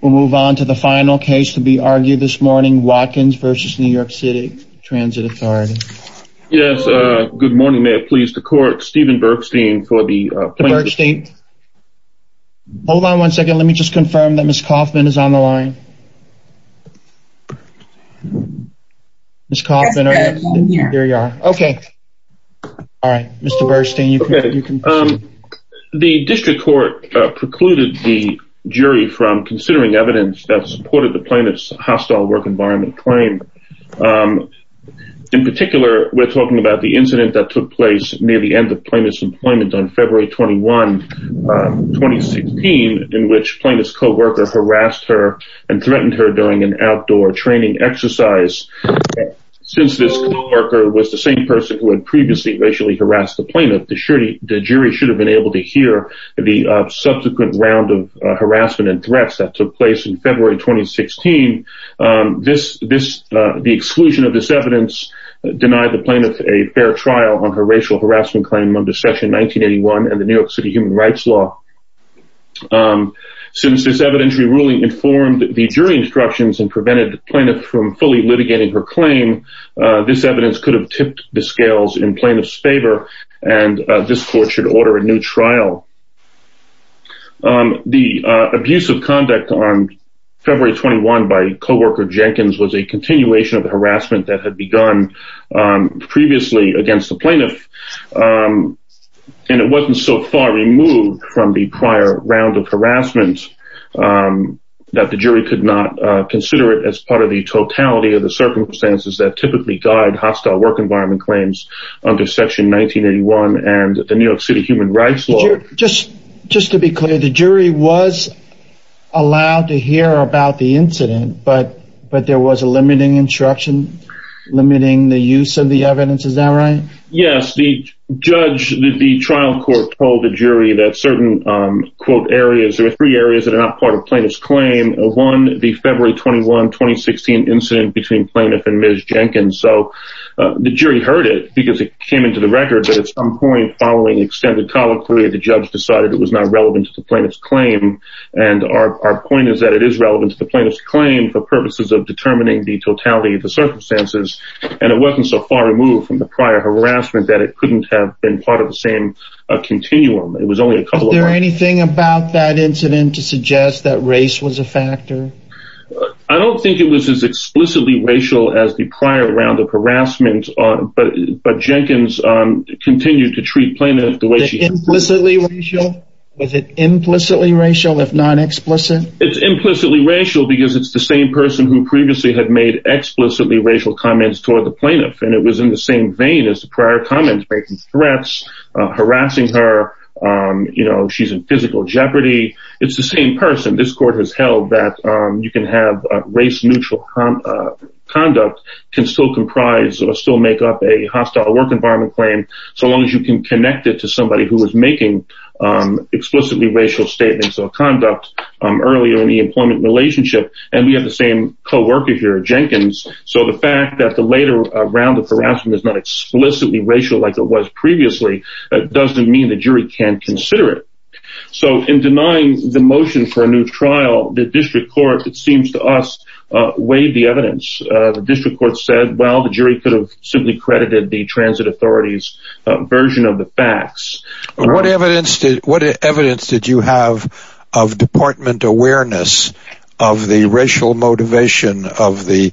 We'll move on to the final case to be argued this morning Watkins v. New York City Transit Authority Yes, good morning. May it please the court Steven Bergstein for the plaintiff state Hold on one second. Let me just confirm that miss Kaufman is on the line Miss Kaufman, okay All right, mr. Burstein you can The district court precluded the jury from considering evidence that supported the plaintiff's hostile work environment claim In particular we're talking about the incident that took place near the end of plaintiff's employment on February 21 2016 in which plaintiff's co-worker harassed her and threatened her during an outdoor training exercise Since this co-worker was the same person who had previously racially harassed the plaintiff the jury should have been able to hear the Subsequent round of harassment and threats that took place in February 2016 This this the exclusion of this evidence Denied the plaintiff a fair trial on her racial harassment claim under session 1981 and the New York City human rights law Since this evidentiary ruling informed the jury instructions and prevented the plaintiff from fully litigating her claim This evidence could have tipped the scales in plaintiff's favor and this court should order a new trial The abuse of conduct on February 21 by co-worker Jenkins was a continuation of the harassment that had begun previously against the plaintiff And it wasn't so far removed from the prior round of harassment That the jury could not consider it as part of the totality of the circumstances that typically guide hostile work environment claims under section 1981 and the New York City human rights law just just to be clear the jury was Allowed to hear about the incident, but but there was a limiting instruction Limiting the use of the evidence. Is that right? Yes, the judge the trial court told the jury that certain quote areas There are three areas that are not part of plaintiff's claim one the February 21 2016 incident between plaintiff and Ms. Jenkins So the jury heard it because it came into the record that at some point following extended colloquy the judge decided it was not relevant to the plaintiff's claim and Our point is that it is relevant to the plaintiff's claim for purposes of determining the totality of the circumstances And it wasn't so far removed from the prior harassment that it couldn't have been part of the same Continuum, it was only a couple there anything about that incident to suggest that race was a factor I don't think it was as explicitly racial as the prior round of harassment on but but Jenkins Continued to treat plaintiff the way she implicitly racial was it implicitly racial if non-explicit It's implicitly racial because it's the same person who previously had made Explicitly racial comments toward the plaintiff and it was in the same vein as the prior comments breaking threats harassing her You know, she's in physical jeopardy. It's the same person. This court has held that you can have race neutral Conduct can still comprise or still make up a hostile work environment claim so long as you can connect it to somebody who is making Explicitly racial statements or conduct earlier in the employment relationship and we have the same co-worker here Jenkins So the fact that the later round of harassment is not explicitly racial like it was previously That doesn't mean the jury can't consider it So in denying the motion for a new trial the district court, it seems to us Weighed the evidence the district court said well the jury could have simply credited the transit authorities version of the facts What evidence did what evidence did you have of? deportment awareness of the racial motivation of the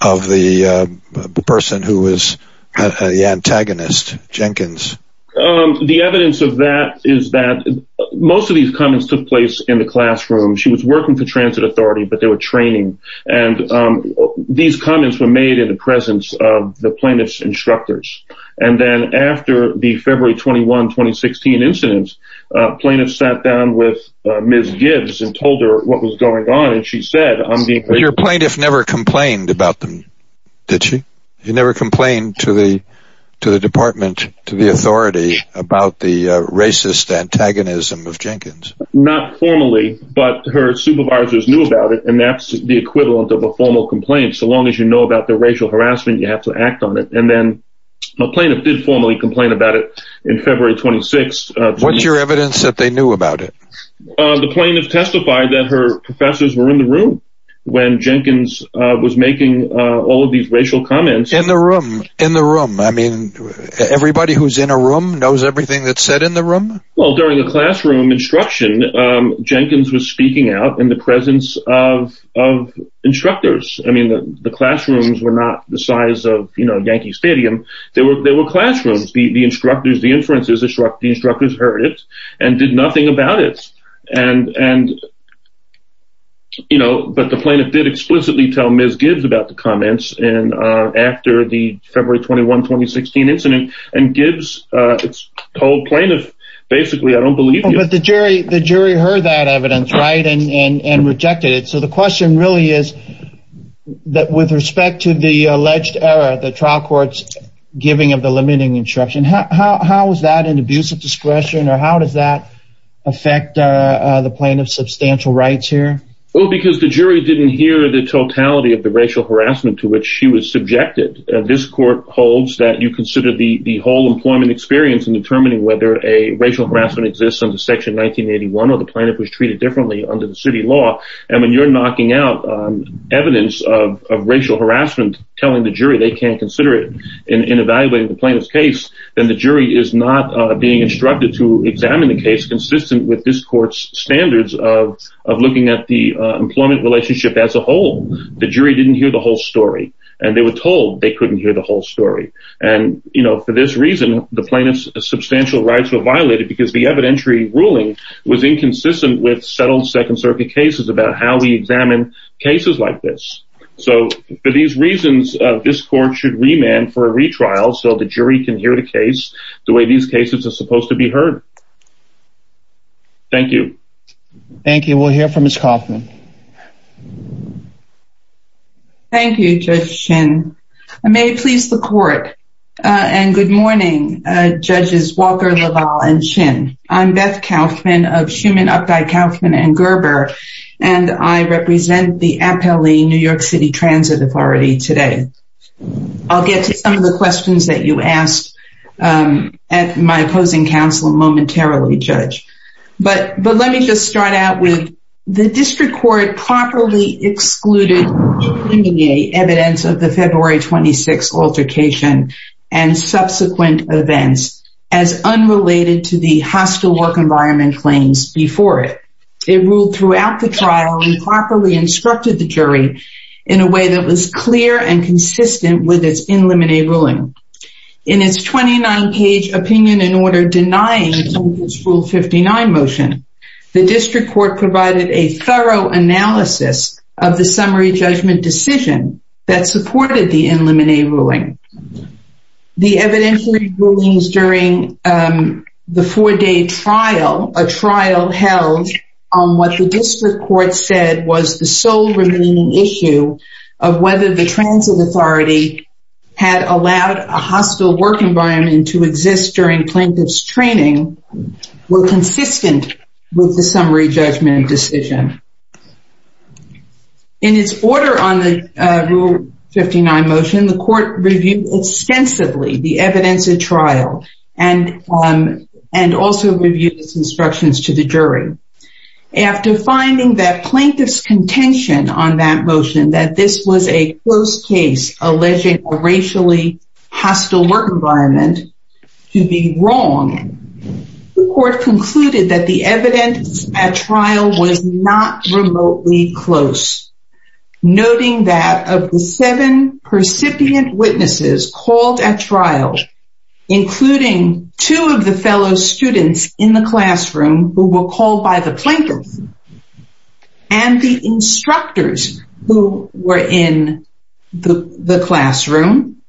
of the person who is the antagonist Jenkins The evidence of that is that most of these comments took place in the classroom she was working for transit authority, but they were training and These comments were made in the presence of the plaintiffs instructors and then after the February 21 2016 incidents Plaintiffs sat down with Miss Gibbs and told her what was going on And she said I'm being your plaintiff never complained about them Did she you never complained to the to the department to the authority about the racist? Antagonism of Jenkins not formally But her supervisors knew about it And that's the equivalent of a formal complaint so long as you know about the racial harassment you have to act on it And then a plaintiff did formally complain about it in February 26. What's your evidence that they knew about it? The plaintiff testified that her professors were in the room when Jenkins was making all of these racial comments in the room in the room I mean Everybody who's in a room knows everything that said in the room well during a classroom instruction Jenkins was speaking out in the presence of Instructors, I mean the classrooms were not the size of you know Yankee Stadium they were there were classrooms be the instructors the inferences instruct the instructors heard it and did nothing about it and and You know but the plaintiff did explicitly tell Miss Gibbs about the comments and After the February 21 2016 incident and gives its whole plaintiff Basically, I don't believe but the jury the jury heard that evidence right and and and rejected it so the question really is That with respect to the alleged error the trial courts giving of the limiting instruction How is that an abusive discretion or how does that? affect The plaintiff substantial rights here Well, because the jury didn't hear the totality of the racial harassment to which she was subjected this court holds that you consider the the whole employment experience in determining whether a racial harassment exists on the section 1981 or the Plaintiff was treated differently under the city law and when you're knocking out evidence of racial harassment Telling the jury they can't consider it in Evaluating the plaintiff's case then the jury is not being instructed to examine the case consistent with this court's standards of looking at the employment relationship as a whole the jury didn't hear the whole story and they were told they couldn't hear the whole story and You know for this reason the plaintiff's substantial rights were violated because the evidentiary ruling was inconsistent with settled Second-circuit cases about how we examine cases like this So for these reasons this court should remand for a retrial so the jury can hear the case The way these cases are supposed to be heard Thank you, thank you, we'll hear from his coffin Thank you, just chin I may please the court And good morning Judges Walker Laval and chin. I'm Beth Kaufman of Schumann up by Kaufman and Gerber And I represent the appellee New York City Transit Authority today I'll get to some of the questions that you asked At my opposing counsel momentarily judge, but but let me just start out with the district court properly excluded Evidence of the February 26 altercation and subsequent events as Properly instructed the jury in a way that was clear and consistent with its in limine ruling in its 29 page opinion in order denying school 59 motion the district court provided a thorough analysis of the summary judgment decision that supported the in limine ruling the evidentiary rulings during The four-day trial a trial held on what the district court said was the sole remaining issue of whether the transit authority Had allowed a hostile work environment to exist during plaintiff's training Will consistent with the summary judgment decision? in its order on the 59 motion the court reviewed extensively the evidence at trial and And also reviewed its instructions to the jury After finding that plaintiff's contention on that motion that this was a close case alleging a racially hostile work environment to be wrong The court concluded that the evidence at trial was not remotely close Noting that of the seven percipient witnesses called at trial including two of the fellow students in the classroom who were called by the plaintiff and The instructors who were in the the classroom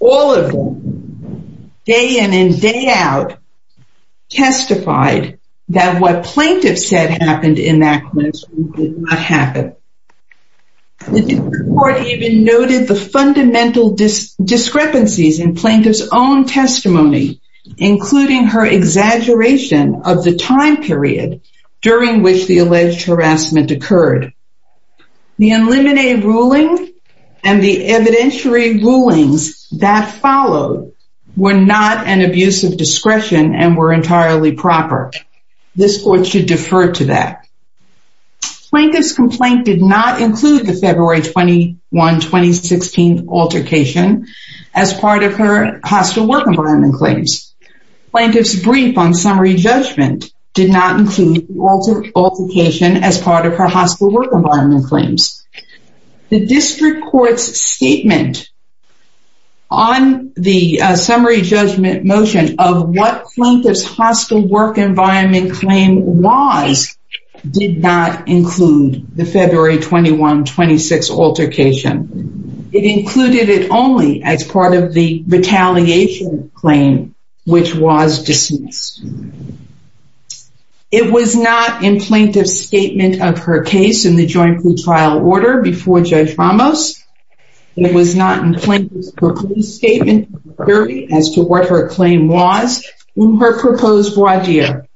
all of them day in and day out Testified that what plaintiff said happened in that classroom did not happen The court even noted the fundamental discrepancies in plaintiff's own testimony including her Exaggeration of the time period during which the alleged harassment occurred the in limine ruling and the evidentiary rulings that followed Were not an abuse of discretion and were entirely proper this court should defer to that Plaintiff's complaint did not include the February 21 2016 altercation as part of her hostile work environment claims Plaintiff's brief on summary judgment did not include altercation as part of her hostile work environment claims the district courts statement on The summary judgment motion of what plaintiff's hostile work environment claim was Did not include the February 21 26 altercation It included it only as part of the retaliation claim, which was dismissed It was not in plaintiff's statement of her case in the joint trial order before Judge Ramos It was not in plaintiff's statement as to what her claim was in her proposed wadiyah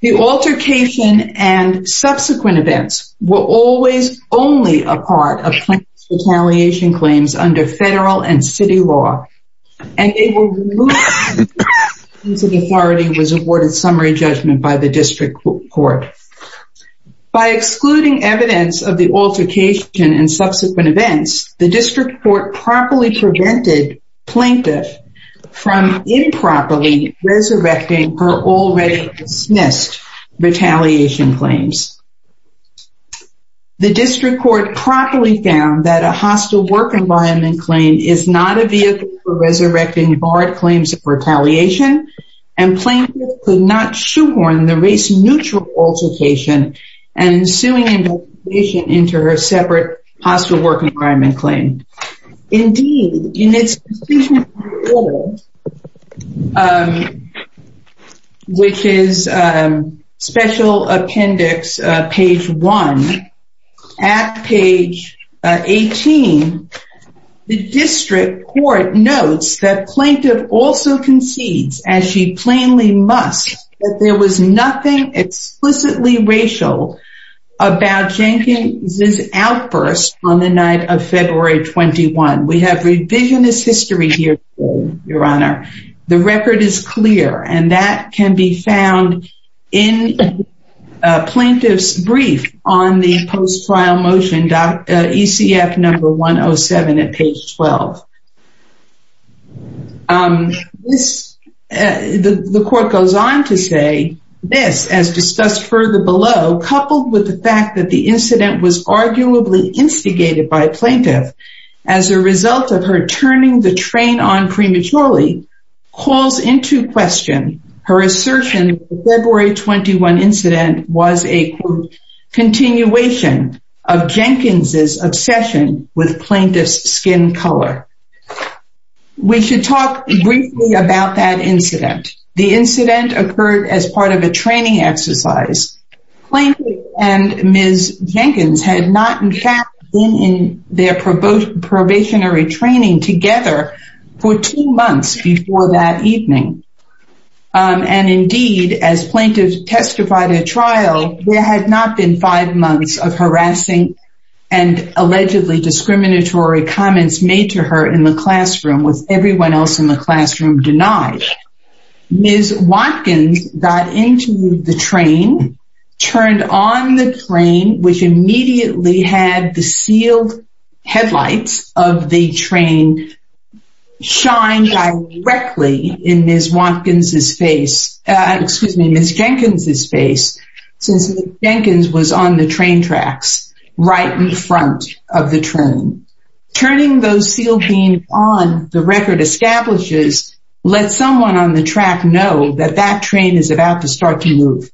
The altercation and Subsequent events were always only a part of plaintiff's retaliation claims under federal and city law And they were removed until the authority was awarded summary judgment by the district court By excluding evidence of the altercation and subsequent events the district court properly prevented plaintiff from Improperly resurrecting her already dismissed retaliation claims The district court properly found that a hostile work environment claim is not a vehicle for resurrecting barred claims of retaliation and Plaintiff could not shoehorn the race neutral altercation and ensuing investigation into her separate hostile work environment claim indeed in its Which is Special appendix page 1 at page 18 The district court notes that plaintiff also concedes as she plainly must that there was nothing explicitly racial About Jenkins's outburst on the night of February 21. We have revisionist history here Your honor the record is clear and that can be found in Plaintiff's brief on the post trial motion. Dr. ECF number 107 at page 12 This The court goes on to say this as discussed further below coupled with the fact that the incident was arguably Instigated by plaintiff as a result of her turning the train on prematurely Calls into question her assertion February 21 incident was a Continuation of Jenkins's obsession with plaintiff's skin color We should talk briefly about that incident. The incident occurred as part of a training exercise Plaintiff and Ms. Jenkins had not in fact been in their probationary training together for two months before that evening and indeed as plaintiffs testified at trial there had not been five months of harassing and Allegedly discriminatory comments made to her in the classroom with everyone else in the classroom denied Ms. Watkins got into the train Turned on the train which immediately had the sealed headlights of the train Shine directly in Ms. Watkins's face Excuse me, Ms. Jenkins's face since Jenkins was on the train tracks right in front of the train Turning those sealed beams on the record establishes let someone on the track know that that train is about to start to move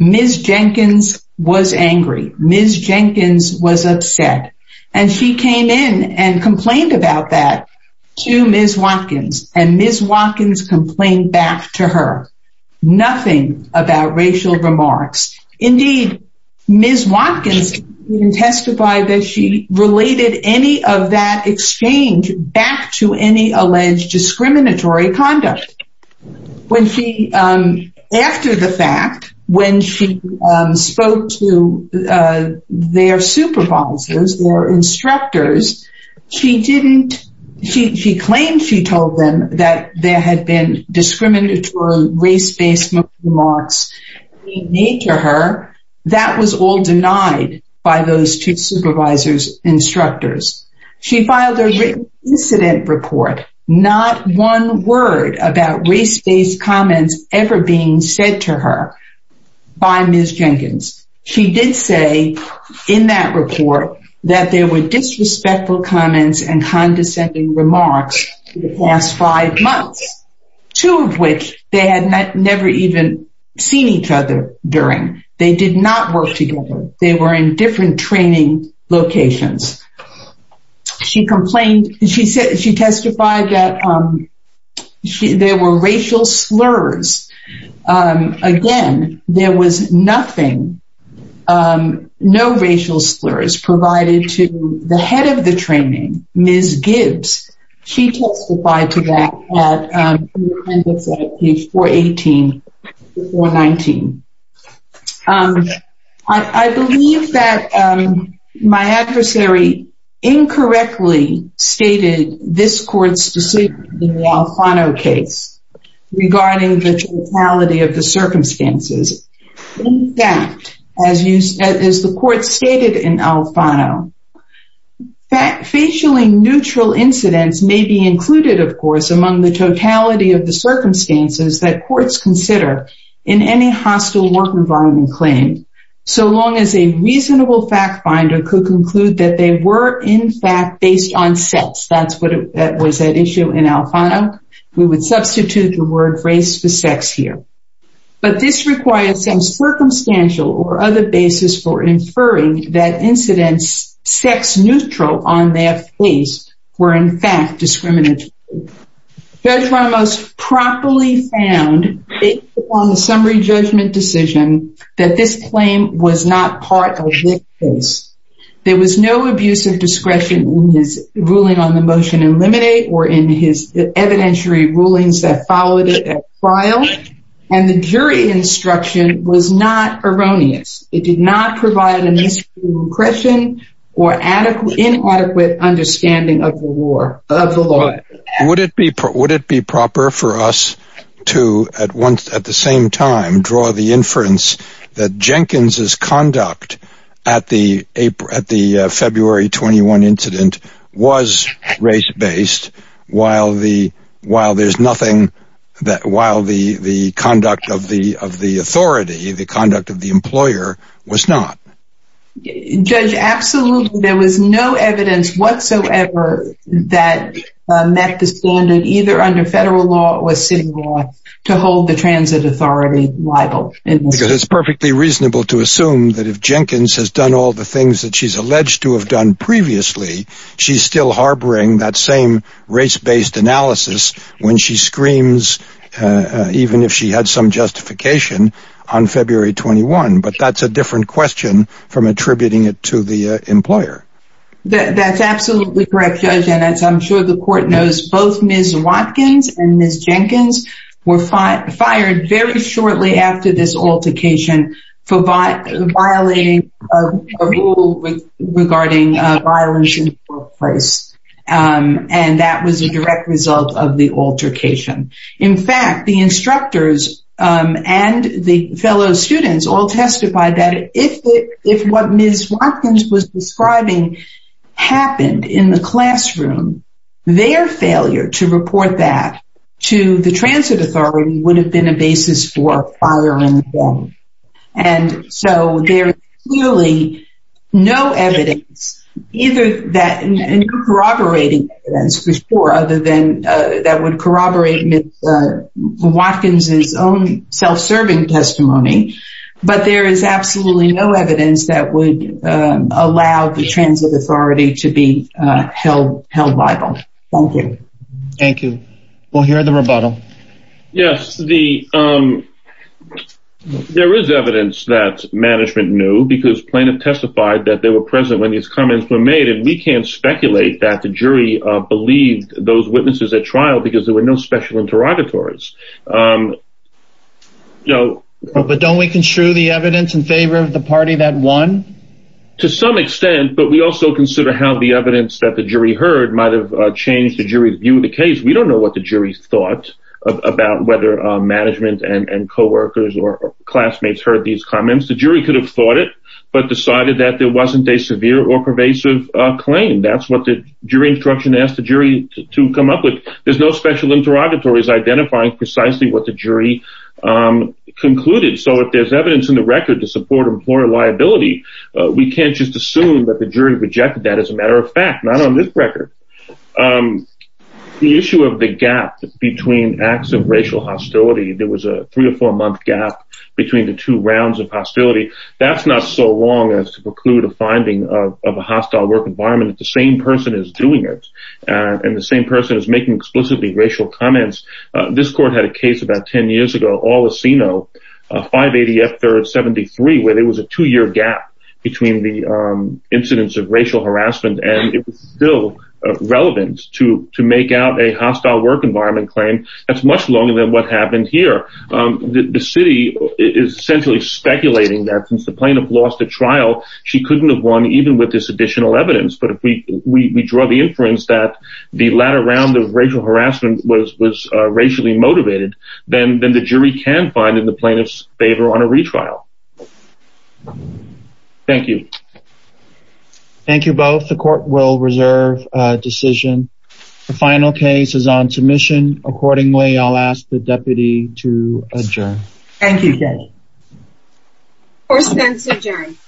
Ms. Jenkins was angry. Ms. Jenkins was upset and she came in and complained about that To Ms. Watkins and Ms. Watkins complained back to her Nothing about racial remarks indeed Ms. Watkins Testified that she related any of that exchange back to any alleged discriminatory conduct when she After the fact when she spoke to their supervisors or instructors She didn't she claimed she told them that there had been discriminatory race-based remarks Made to her that was all denied by those two supervisors instructors she filed a Incident report not one word about race-based comments ever being said to her by Ms. Jenkins She did say in that report that there were disrespectful comments and condescending remarks last five months Two of which they had never even seen each other during they did not work together. They were in different training locations She complained she said she testified that She there were racial slurs Again there was nothing No racial slurs provided to the head of the training Ms. Gibbs. She testified to that Before 18 or 19 I believe that My adversary Incorrectly stated this court's decision in the Alfano case regarding the totality of the circumstances In fact as you said as the court stated in Alfano that facially neutral incidents may be included of course among the totality of the Incidents Based on sex that's what that was that issue in Alfano We would substitute the word race for sex here but this requires some Circumstantial or other basis for inferring that incidents sex neutral on their face were in fact discriminatory Judge Ramos Properly found it on the summary judgment decision that this claim was not part of there was no abuse of discretion in his ruling on the motion eliminate or in his evidentiary rulings that followed it at trial and the jury instruction was not erroneous it did not provide an question or adequate inadequate understanding of the war of the law Would it be put would it be proper for us to at once at the same time draw the inference that? Jenkins's conduct at the April at the February 21 incident was race-based While the while there's nothing that while the the conduct of the of the authority the conduct of the employer was not Judge absolutely there was no evidence whatsoever that Met the standard either under federal law or city law to hold the transit authority It's perfectly reasonable to assume that if Jenkins has done all the things that she's alleged to have done previously She's still harboring that same race-based analysis when she screams Even if she had some justification on February 21, but that's a different question from attributing it to the employer That's absolutely correct judge and as I'm sure the court knows both miss Watkins and miss Jenkins Were fired fired very shortly after this altercation for by the violating Regarding And that was a direct result of the altercation in fact the instructors And the fellow students all testified that if if what miss Watkins was describing happened in the classroom Their failure to report that to the transit authority would have been a basis for firing them and So there's really no evidence either that corroborating as before other than that would corroborate miss Watkins's own self-serving testimony, but there is absolutely no evidence that would Allow the transit authority to be held held by both. Thank you. Thank you. We'll hear the rebuttal yes, the There is evidence that Management knew because plaintiff testified that they were present when these comments were made and we can't speculate that the jury Believed those witnesses at trial because there were no special interrogatories No, but don't we construe the evidence in favor of the party that won To some extent but we also consider how the evidence that the jury heard might have changed the jury's view of the case We don't know what the jury thought About whether management and and co-workers or classmates heard these comments The jury could have thought it but decided that there wasn't a severe or pervasive claim That's what the jury instruction asked the jury to come up with. There's no special interrogatories identifying precisely what the jury Concluded so if there's evidence in the record to support employer liability We can't just assume that the jury rejected that as a matter of fact not on this record The issue of the gap between acts of racial hostility There was a three or four month gap between the two rounds of hostility That's not so long as to preclude a finding of a hostile work environment It's the same person is doing it and the same person is making explicitly racial comments This court had a case about 10 years ago all the Sino 580 F 3rd 73 where there was a two-year gap between the incidents of racial harassment and it was still Relevant to to make out a hostile work environment claim. That's much longer than what happened here The city is essentially speculating that since the plaintiff lost a trial she couldn't have won even with this additional evidence But if we we draw the inference that the latter round of racial harassment was was racially motivated Then then the jury can find in the plaintiff's favor on a retrial Thank you Thank you both the court will reserve Decision the final case is on submission accordingly. I'll ask the deputy to adjourn. Thank you